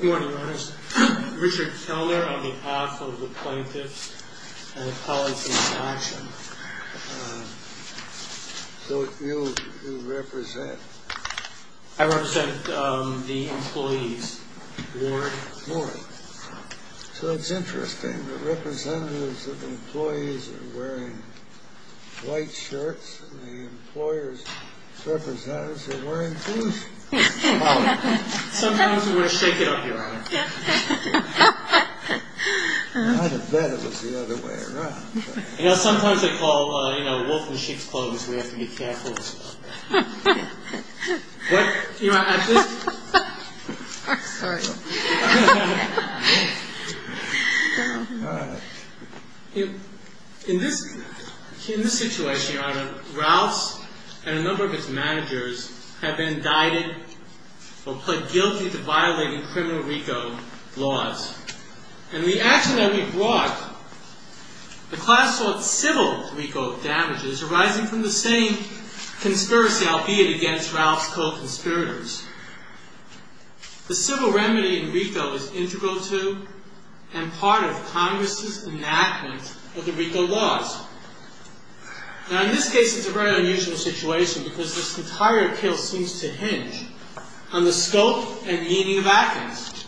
Good morning, Your Honors. Richard Keller on behalf of the Plaintiffs and the Policies Action. So who do you represent? I represent the employees, Ward. Ward. So it's interesting, the representatives of the employees are wearing white shirts, and the employers' representatives are wearing blue shirts. Sometimes we're going to shake it up, Your Honor. I would have bet it was the other way around. You know, sometimes they call, you know, wolf in sheep's clothes, we have to be careful. In this situation, Your Honor, Ralphs and a number of its managers have been indicted or pled guilty to violating criminal RICO laws. And the action that we brought, the class-sort civil RICO damages arising from the same conspiracy, albeit against Ralph's co-conspirators. The civil remedy in RICO is integral to and part of Congress's enactment of the RICO laws. Now, in this case, it's a very unusual situation, because this entire appeal seems to hinge on the scope and meaning of actions.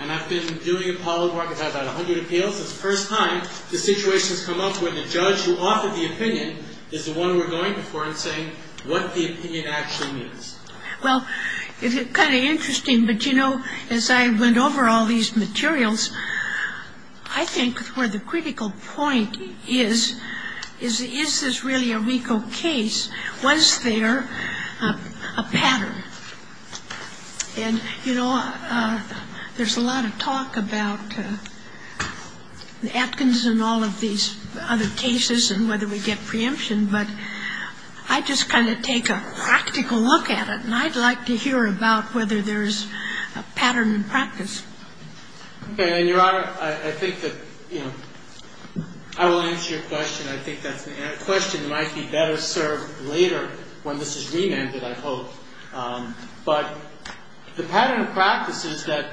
And I've been doing a poll, Ward, we've had about 100 appeals. It's the first time the situation has come up where the judge who offered the opinion is the one we're going before and saying what the opinion actually means. Well, it's kind of interesting, but, you know, as I went over all these materials, I think where the critical point is, is this really a RICO case? Was there a pattern? And, you know, there's a lot of talk about the Atkins and all of these other cases and whether we get preemption. But I just kind of take a practical look at it, and I'd like to hear about whether there's a pattern in practice. Okay. And, Your Honor, I think that, you know, I will answer your question. I think that's a question that might be better served later when this is remanded, I hope. But the pattern of practice is that,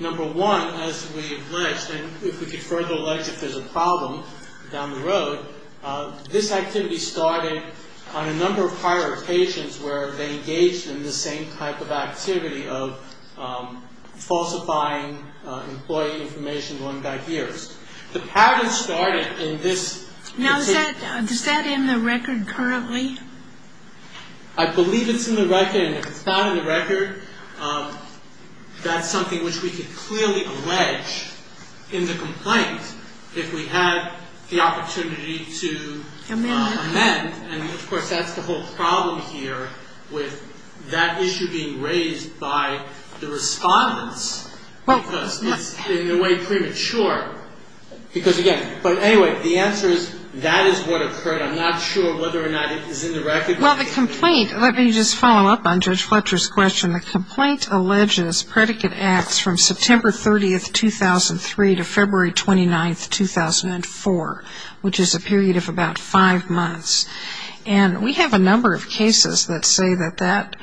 number one, as we have alleged, and if we could further allege if there's a problem down the road, this activity started on a number of prior occasions where they engaged in the same type of activity of falsifying employee information going back years. The pattern started in this particular case. Now, is that in the record currently? I believe it's in the record. And if it's not in the record, that's something which we could clearly allege in the complaint if we had the opportunity to amend. And, of course, that's the whole problem here with that issue being raised by the respondents because it's in a way premature. Because, again, but anyway, the answer is that is what occurred. I'm not sure whether or not it is in the record. Well, the complaint, let me just follow up on Judge Fletcher's question. The complaint alleges predicate acts from September 30th, 2003 to February 29th, 2004, which is a period of about five months. And we have a number of cases that say that that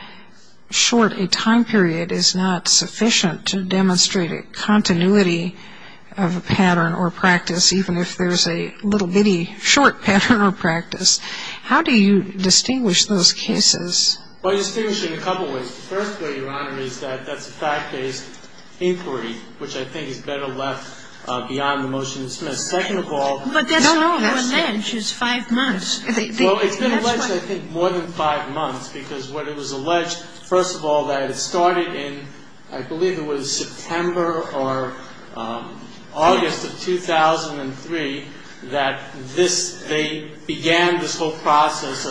short a time period is not sufficient to demonstrate a continuity of a pattern or practice, even if there's a little bitty short pattern or practice. How do you distinguish those cases? Well, I distinguish them in a couple of ways. The first way, Your Honor, is that that's a fact-based inquiry, which I think is better left beyond the motion to dismiss. Second of all — But that's not what we allege is five months. Well, it's been alleged, I think, more than five months because what it was alleged, first of all, that it started in, I believe it was September or August of 2003 that this — they began this whole process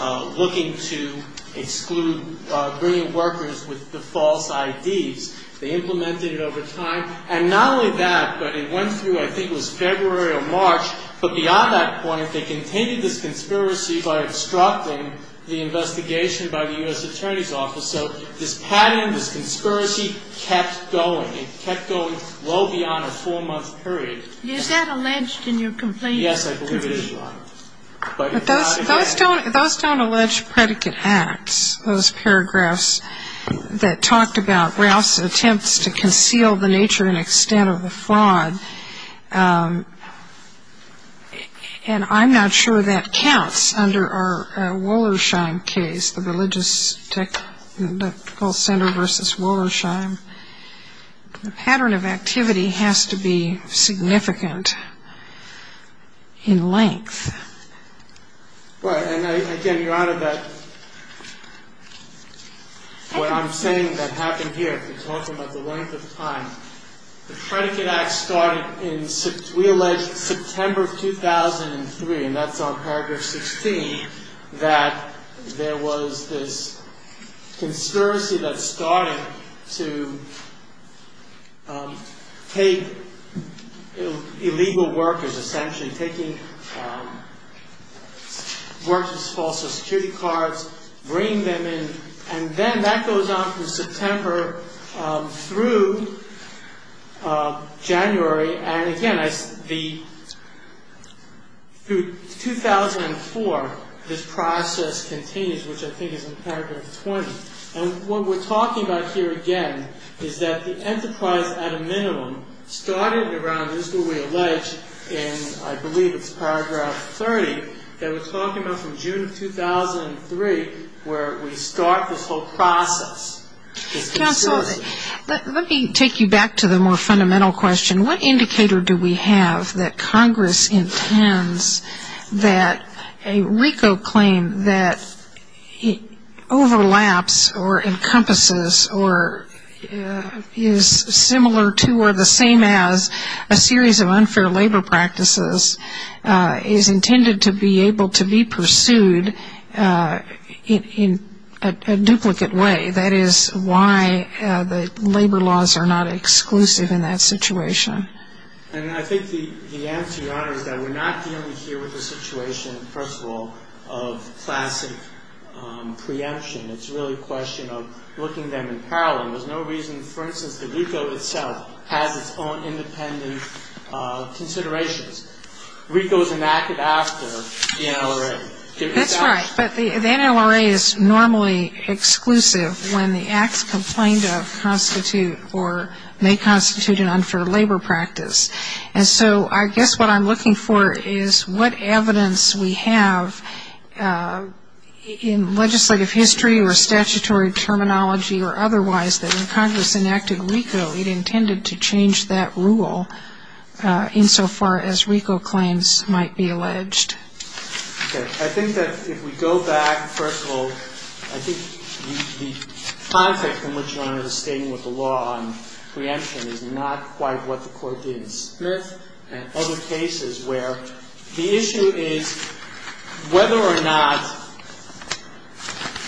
of looking to exclude — bringing workers with the false IDs. They implemented it over time. And not only that, but it went through, I think it was February or March. But beyond that point, they continued this conspiracy by obstructing the investigation by the U.S. Attorney's Office. So this pattern, this conspiracy, kept going. It kept going well beyond a four-month period. Is that alleged in your complaint? Yes, I believe it is, Your Honor. But it's not alleged. Those don't allege predicate acts, those paragraphs that talked about Rouse's attempts to conceal the nature and extent of the fraud. And I'm not sure that counts under our Wollersheim case, the religious technical center versus Wollersheim. The pattern of activity has to be significant in length. Well, and again, Your Honor, that what I'm saying that happened here, you're talking about the length of time. The predicate act started in, we allege, September of 2003, and that's on paragraph 16, that there was this conspiracy that started to take illegal workers, essentially taking workers with false security cards, bringing them in. And then that goes on from September through January. And again, through 2004, this process continues, which I think is in paragraph 20. And what we're talking about here, again, is that the enterprise, at a minimum, started around, this is what we allege in, I believe it's paragraph 30, that we're talking about from June of 2003, where we start this whole process. Counsel, let me take you back to the more fundamental question. What indicator do we have that Congress intends that a RICO claim that overlaps or encompasses or is similar to or the same as a series of unfair labor practices is intended to be able to be pursued in a duplicate way? That is why the labor laws are not exclusive in that situation. And I think the answer, Your Honor, is that we're not dealing here with the situation, first of all, of classic preemption. It's really a question of looking them in parallel. There's no reason, for instance, that RICO itself has its own independent considerations. RICO is enacted after the NLRA. That's right. But the NLRA is normally exclusive when the acts complained of constitute or may constitute an unfair labor practice. And so I guess what I'm looking for is what evidence we have in legislative history or statutory terminology or otherwise that when Congress enacted RICO, it intended to change that rule insofar as RICO claims might be alleged. Okay. I think that if we go back, first of all, I think the context in which Your Honor is stating with the law on preemption is not quite what the court did in Smith and other cases where the issue is whether or not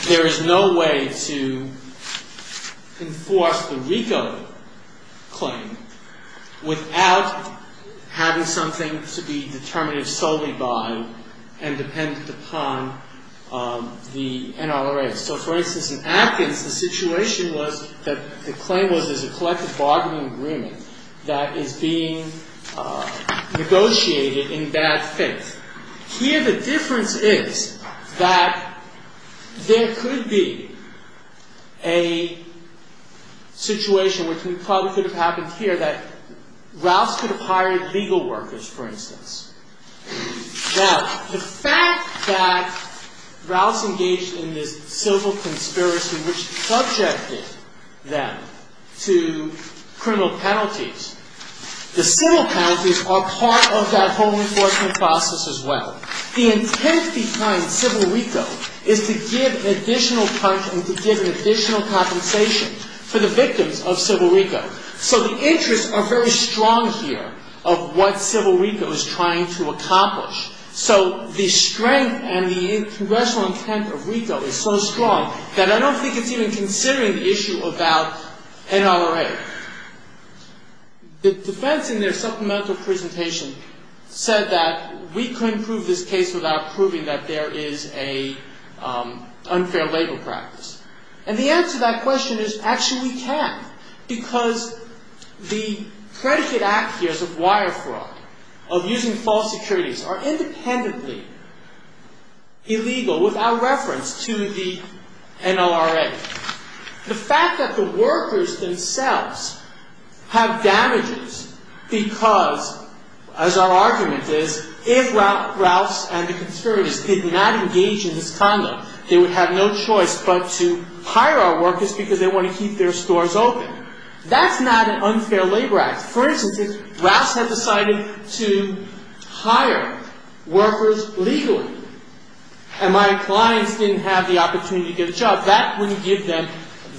there is no way to enforce the RICO claim without having something to be determinative solely by and dependent upon the NLRA. So, for instance, in Atkins, the situation was that the claim was there's a collective bargaining agreement that is being negotiated in bad faith. Here the difference is that there could be a situation, which we probably could have happened here, that Ralphs could have hired legal workers, for instance. Now, the fact that Ralphs engaged in this civil conspiracy which subjected them to criminal penalties, the civil penalties are part of that whole enforcement process as well. The intent behind civil RICO is to give additional punch and to give an additional compensation for the victims of civil RICO. So the interests are very strong here of what civil RICO is trying to accomplish. So the strength and the congressional intent of RICO is so strong that I don't think it's even considering the issue about NLRA. The defense in their supplemental presentation said that we couldn't prove this case without proving that there is an unfair labor practice. And the answer to that question is actually we can because the predicate act here is of wire fraud, of using false securities, are independently illegal without reference to the NLRA. The fact that the workers themselves have damages because, as our argument is, if Ralphs and the conspirators did not engage in this condo, they would have no choice but to hire our workers because they want to keep their stores open, that's not an unfair labor act. For instance, if Ralphs had decided to hire workers legally and my clients didn't have the opportunity to get a job, that wouldn't give them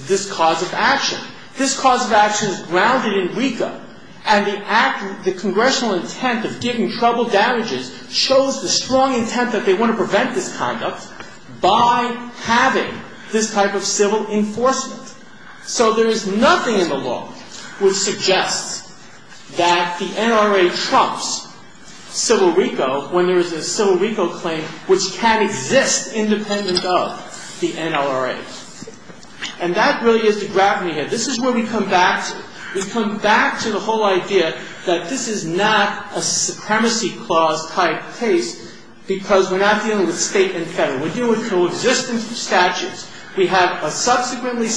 this cause of action. This cause of action is grounded in RICO and the congressional intent of giving trouble damages shows the strong intent that they want to prevent this conduct by having this type of civil enforcement. So there is nothing in the law which suggests that the NLRA trumps civil RICO when there is a civil RICO claim which can exist independent of the NLRA. And that really is the gravity here. This is where we come back to it. We come back to the whole idea that this is not a supremacy clause type case because we're not dealing with state and federal. We're dealing with coexistence of statutes. We have a subsequently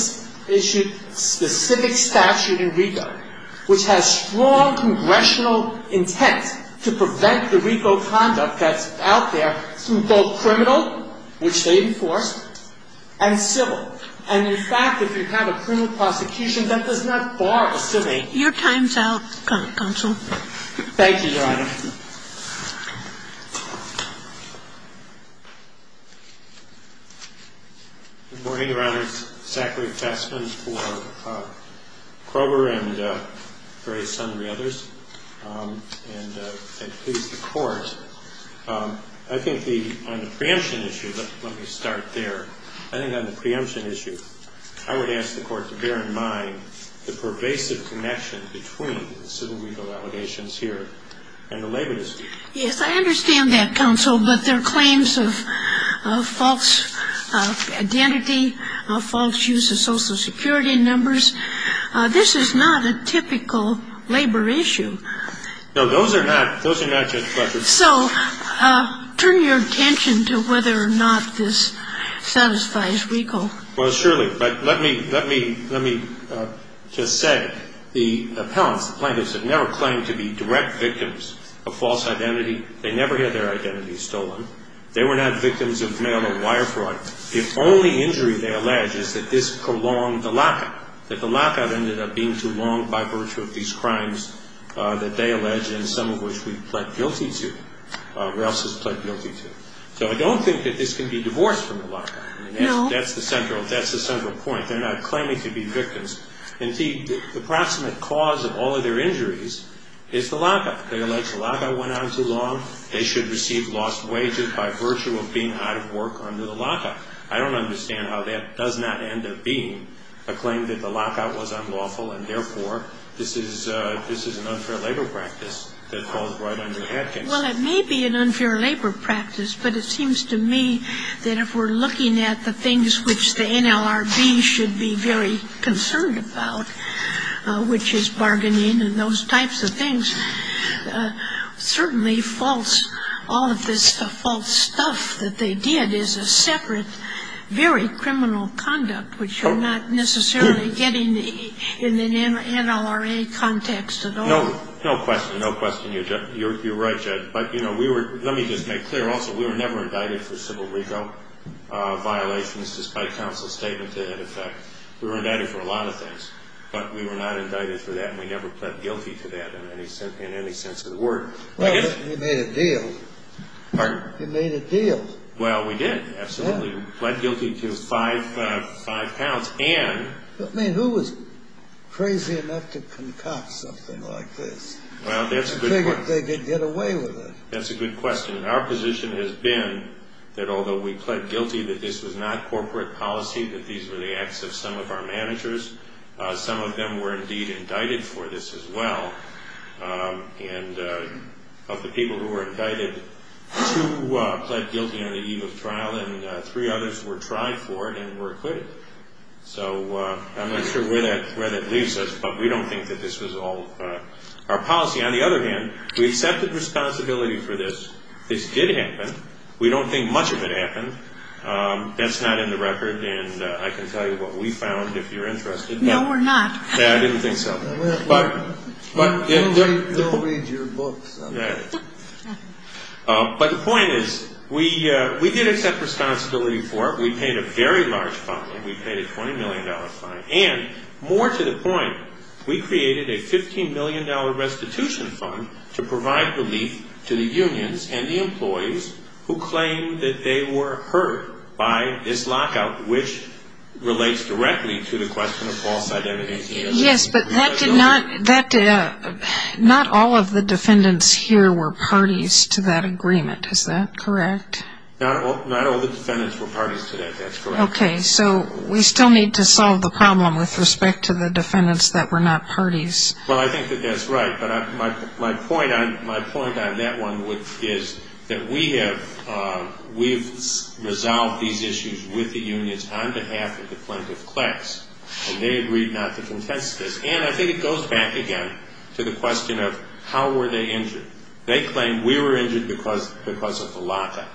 issued specific statute in RICO which has strong congressional intent to prevent the RICO conduct that's out there through both criminal, which they enforce, and civil. And in fact, if you have a criminal prosecution, that does not bar a civil. Your time's out, counsel. Thank you, Your Honor. Good morning, Your Honors. Zachary Fessman for Kroeber and Gray's son and the others. And please, the Court. I think on the preemption issue, let me start there. I think on the preemption issue, I would ask the Court to bear in mind the pervasive connection between civil RICO allegations here and the labor dispute. Yes, I understand that, counsel, but there are claims of false identity, of false use of Social Security numbers. This is not a typical labor issue. No, those are not. Those are not, Judge Bletchley. So turn your attention to whether or not this satisfies RICO. Well, surely. But let me just say the plaintiffs have never claimed to be direct victims of false identity. They never had their identity stolen. They were not victims of mail or wire fraud. The only injury they allege is that this prolonged the lockout, that the lockout ended up being too long by virtue of these crimes that they allege and some of which we've pled guilty to or else has pled guilty to. So I don't think that this can be divorced from the lockout. That's the central point. They're not claiming to be victims. Indeed, the approximate cause of all of their injuries is the lockout. They allege the lockout went on too long. They should receive lost wages by virtue of being out of work under the lockout. I don't understand how that does not end up being a claim that the lockout was unlawful and, therefore, this is an unfair labor practice that falls right under Hopkins. Well, it may be an unfair labor practice, but it seems to me that if we're looking at the things which the NLRB should be very concerned about, which is bargaining and those types of things, certainly false, all of this false stuff that they did is a separate, very criminal conduct, which you're not necessarily getting in the NLRA context at all. No question. No question. You're right, Judd. But, you know, let me just make clear also we were never indicted for civil legal violations, despite counsel's statement to that effect. We were indicted for a lot of things, but we were not indicted for that and we never pled guilty to that in any sense of the word. Well, you made a deal. Pardon? You made a deal. Well, we did, absolutely. We pled guilty to five pounds and... I mean, who was crazy enough to concoct something like this? Well, that's a good question. I figured they could get away with it. That's a good question. Our position has been that although we pled guilty that this was not corporate policy, that these were the acts of some of our managers, some of them were indeed indicted for this as well, and of the people who were indicted, two pled guilty on the eve of trial and three others were tried for it and were acquitted. So I'm not sure where that leaves us, but we don't think that this was all our policy. On the other hand, we accepted responsibility for this. This did happen. We don't think much of it happened. That's not in the record, and I can tell you what we found if you're interested. No, we're not. I didn't think so. They'll read your books. But the point is we did accept responsibility for it. We paid a very large fine. We paid a $20 million fine, and more to the point, we created a $15 million restitution fund to provide relief to the unions and the employees who claimed that they were hurt by this lockout, which relates directly to the question of false identity. Yes, but not all of the defendants here were parties to that agreement. Is that correct? Not all the defendants were parties to that. That's correct. Okay. So we still need to solve the problem with respect to the defendants that were not parties. Well, I think that that's right. But my point on that one is that we have resolved these issues with the unions on behalf of the plaintiff class, and they agreed not to contest this. And I think it goes back again to the question of how were they injured. They claimed we were injured because of the lockout.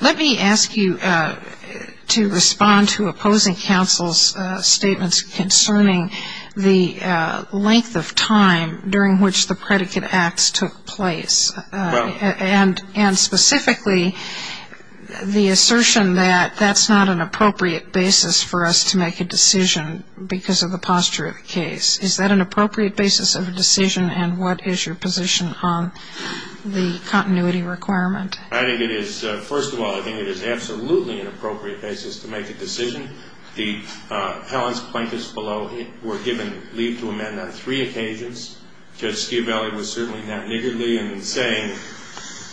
Let me ask you to respond to opposing counsel's statements concerning the length of time during which the predicate acts took place, and specifically the assertion that that's not an appropriate basis for us to make a decision because of the posture of the case. Is that an appropriate basis of a decision, and what is your position on the continuity requirement? I think it is. First of all, I think it is absolutely an appropriate basis to make a decision. Helen's plaintiffs below were given leave to amend on three occasions. Judge Schiavelli was certainly not niggardly in saying,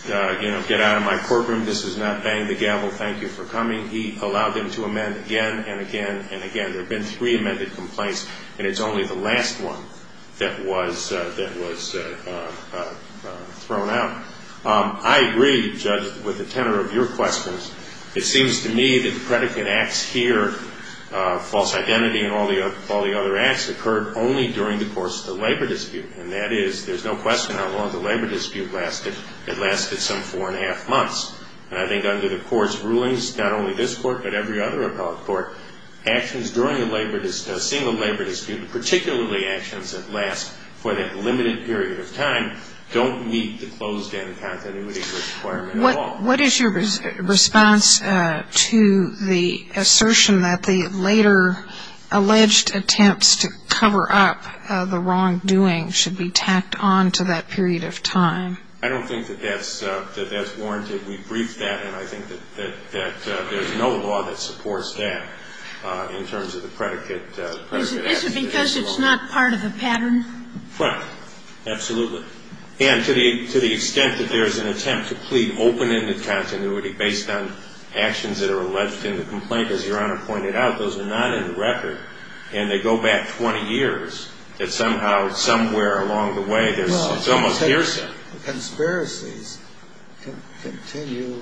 you know, get out of my courtroom, this is not bang the gavel, thank you for coming. He allowed them to amend again and again and again. There have been three amended complaints, and it's only the last one that was thrown out. I agree, Judge, with the tenor of your questions. It seems to me that the predicate acts here, false identity and all the other acts, occurred only during the course of the labor dispute, and that is there's no question how long the labor dispute lasted. It lasted some four and a half months. And I think under the court's rulings, not only this court but every other appellate court, actions during a single labor dispute, particularly actions that last for that limited period of time, What is your response to the assertion that the later alleged attempts to cover up the wrongdoing should be tacked on to that period of time? I don't think that that's warranted. We briefed that, and I think that there's no law that supports that in terms of the predicate. Is it because it's not part of the pattern? Right. Absolutely. And to the extent that there's an attempt to plead open into continuity based on actions that are alleged in the complaint, as Your Honor pointed out, those are not in the record, and they go back 20 years, that somehow somewhere along the way there's almost hearsay. Well, conspiracies continue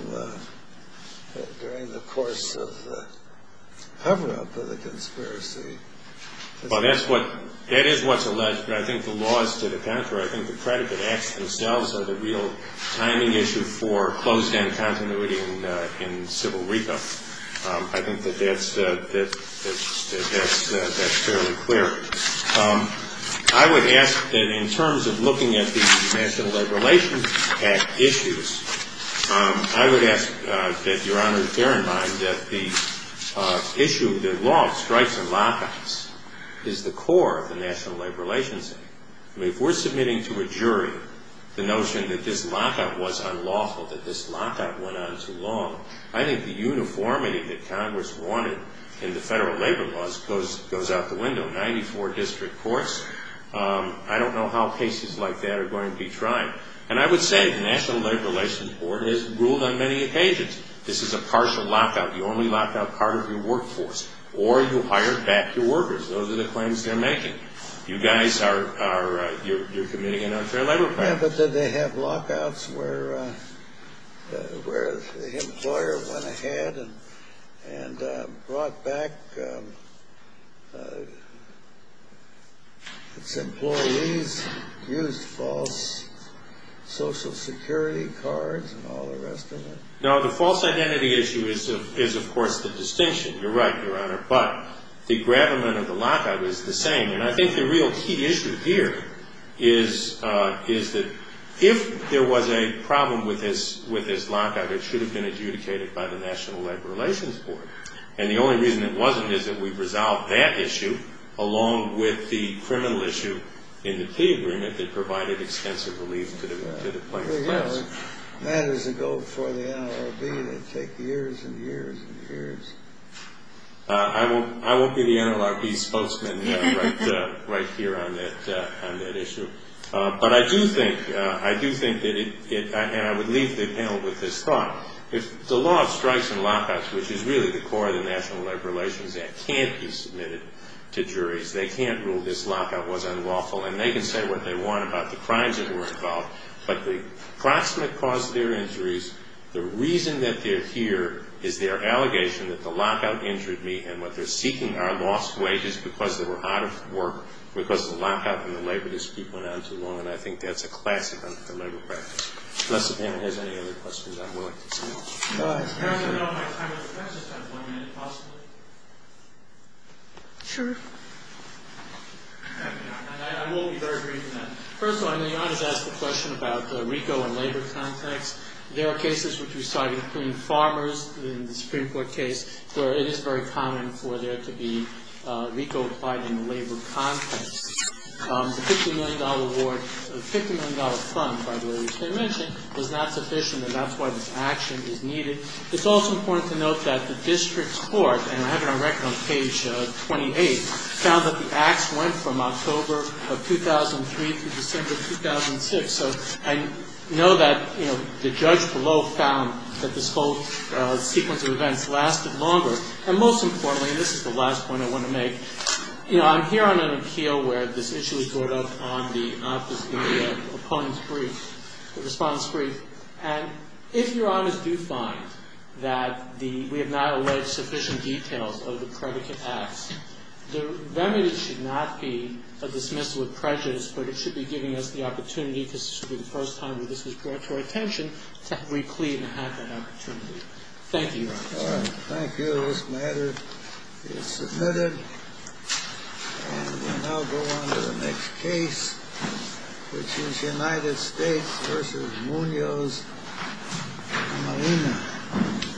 during the course of the cover-up of the conspiracy. Well, that is what's alleged. I think the laws to the contrary, I think the predicate acts themselves are the real timing issue for closed-end continuity in civil reco. I think that that's fairly clear. I would ask that in terms of looking at the National Labor Relations Act issues, I would ask that Your Honor bear in mind that the issue that law strikes and lockouts is the core of the National Labor Relations Act. If we're submitting to a jury the notion that this lockout was unlawful, that this lockout went on too long, I think the uniformity that Congress wanted in the federal labor laws goes out the window. Ninety-four district courts, I don't know how cases like that are going to be tried. And I would say the National Labor Relations Board has ruled on many occasions, this is a partial lockout. You only lock out part of your workforce or you hire back your workers. Those are the claims they're making. You guys are committing an unfair labor crime. Yeah, but did they have lockouts where the employer went ahead and brought back its employees, used false Social Security cards and all the rest of it? No, the false identity issue is, of course, the distinction. You're right, Your Honor. But the gravamen of the lockout is the same. And I think the real key issue here is that if there was a problem with this lockout, it should have been adjudicated by the National Labor Relations Board. And the only reason it wasn't is that we've resolved that issue along with the criminal issue in the key agreement that provided extensive relief to the plaintiffs. That is a go for the NLRB. That would take years and years and years. I won't be the NLRB spokesman right here on that issue. But I do think, and I would leave the panel with this thought, if the law of strikes and lockouts, which is really the core of the National Labor Relations Act, can't be submitted to juries, they can't rule this lockout was unlawful, and they can say what they want about the crimes that were involved, but the proximate cause of their injuries, the reason that they're here, is their allegation that the lockout injured me, and what they're seeking are lost wages because they were out of work because of the lockout and the labor dispute went on too long. And I think that's a classic under the labor practice. Unless the panel has any other questions, I'm willing to speak. I don't know if my time is up. Can I just have one minute, possibly? Sure. And I will be very brief in that. First of all, I know you always ask the question about the RICO and labor context. There are cases which we saw, including farmers in the Supreme Court case, where it is very common for there to be RICO applied in the labor context. The $50 million award, the $50 million fund, by the way, was not sufficient, and that's why this action is needed. It's also important to note that the district court, and I have it on record on page 28, found that the acts went from October of 2003 through December of 2006. So I know that the judge below found that this whole sequence of events lasted longer. And most importantly, and this is the last point I want to make, I'm here on an appeal where this issue was brought up on the opponent's brief, the response brief. And if your honors do find that we have not alleged sufficient details of the predicate acts, the remedy should not be a dismissal of prejudice, but it should be giving us the opportunity, because this would be the first time that this was brought to our attention, to have reclaimed and had that opportunity. Thank you, your honors. All right. Thank you. This matter is submitted. And we now go on to the next case, which is United States v. Munoz and Molina.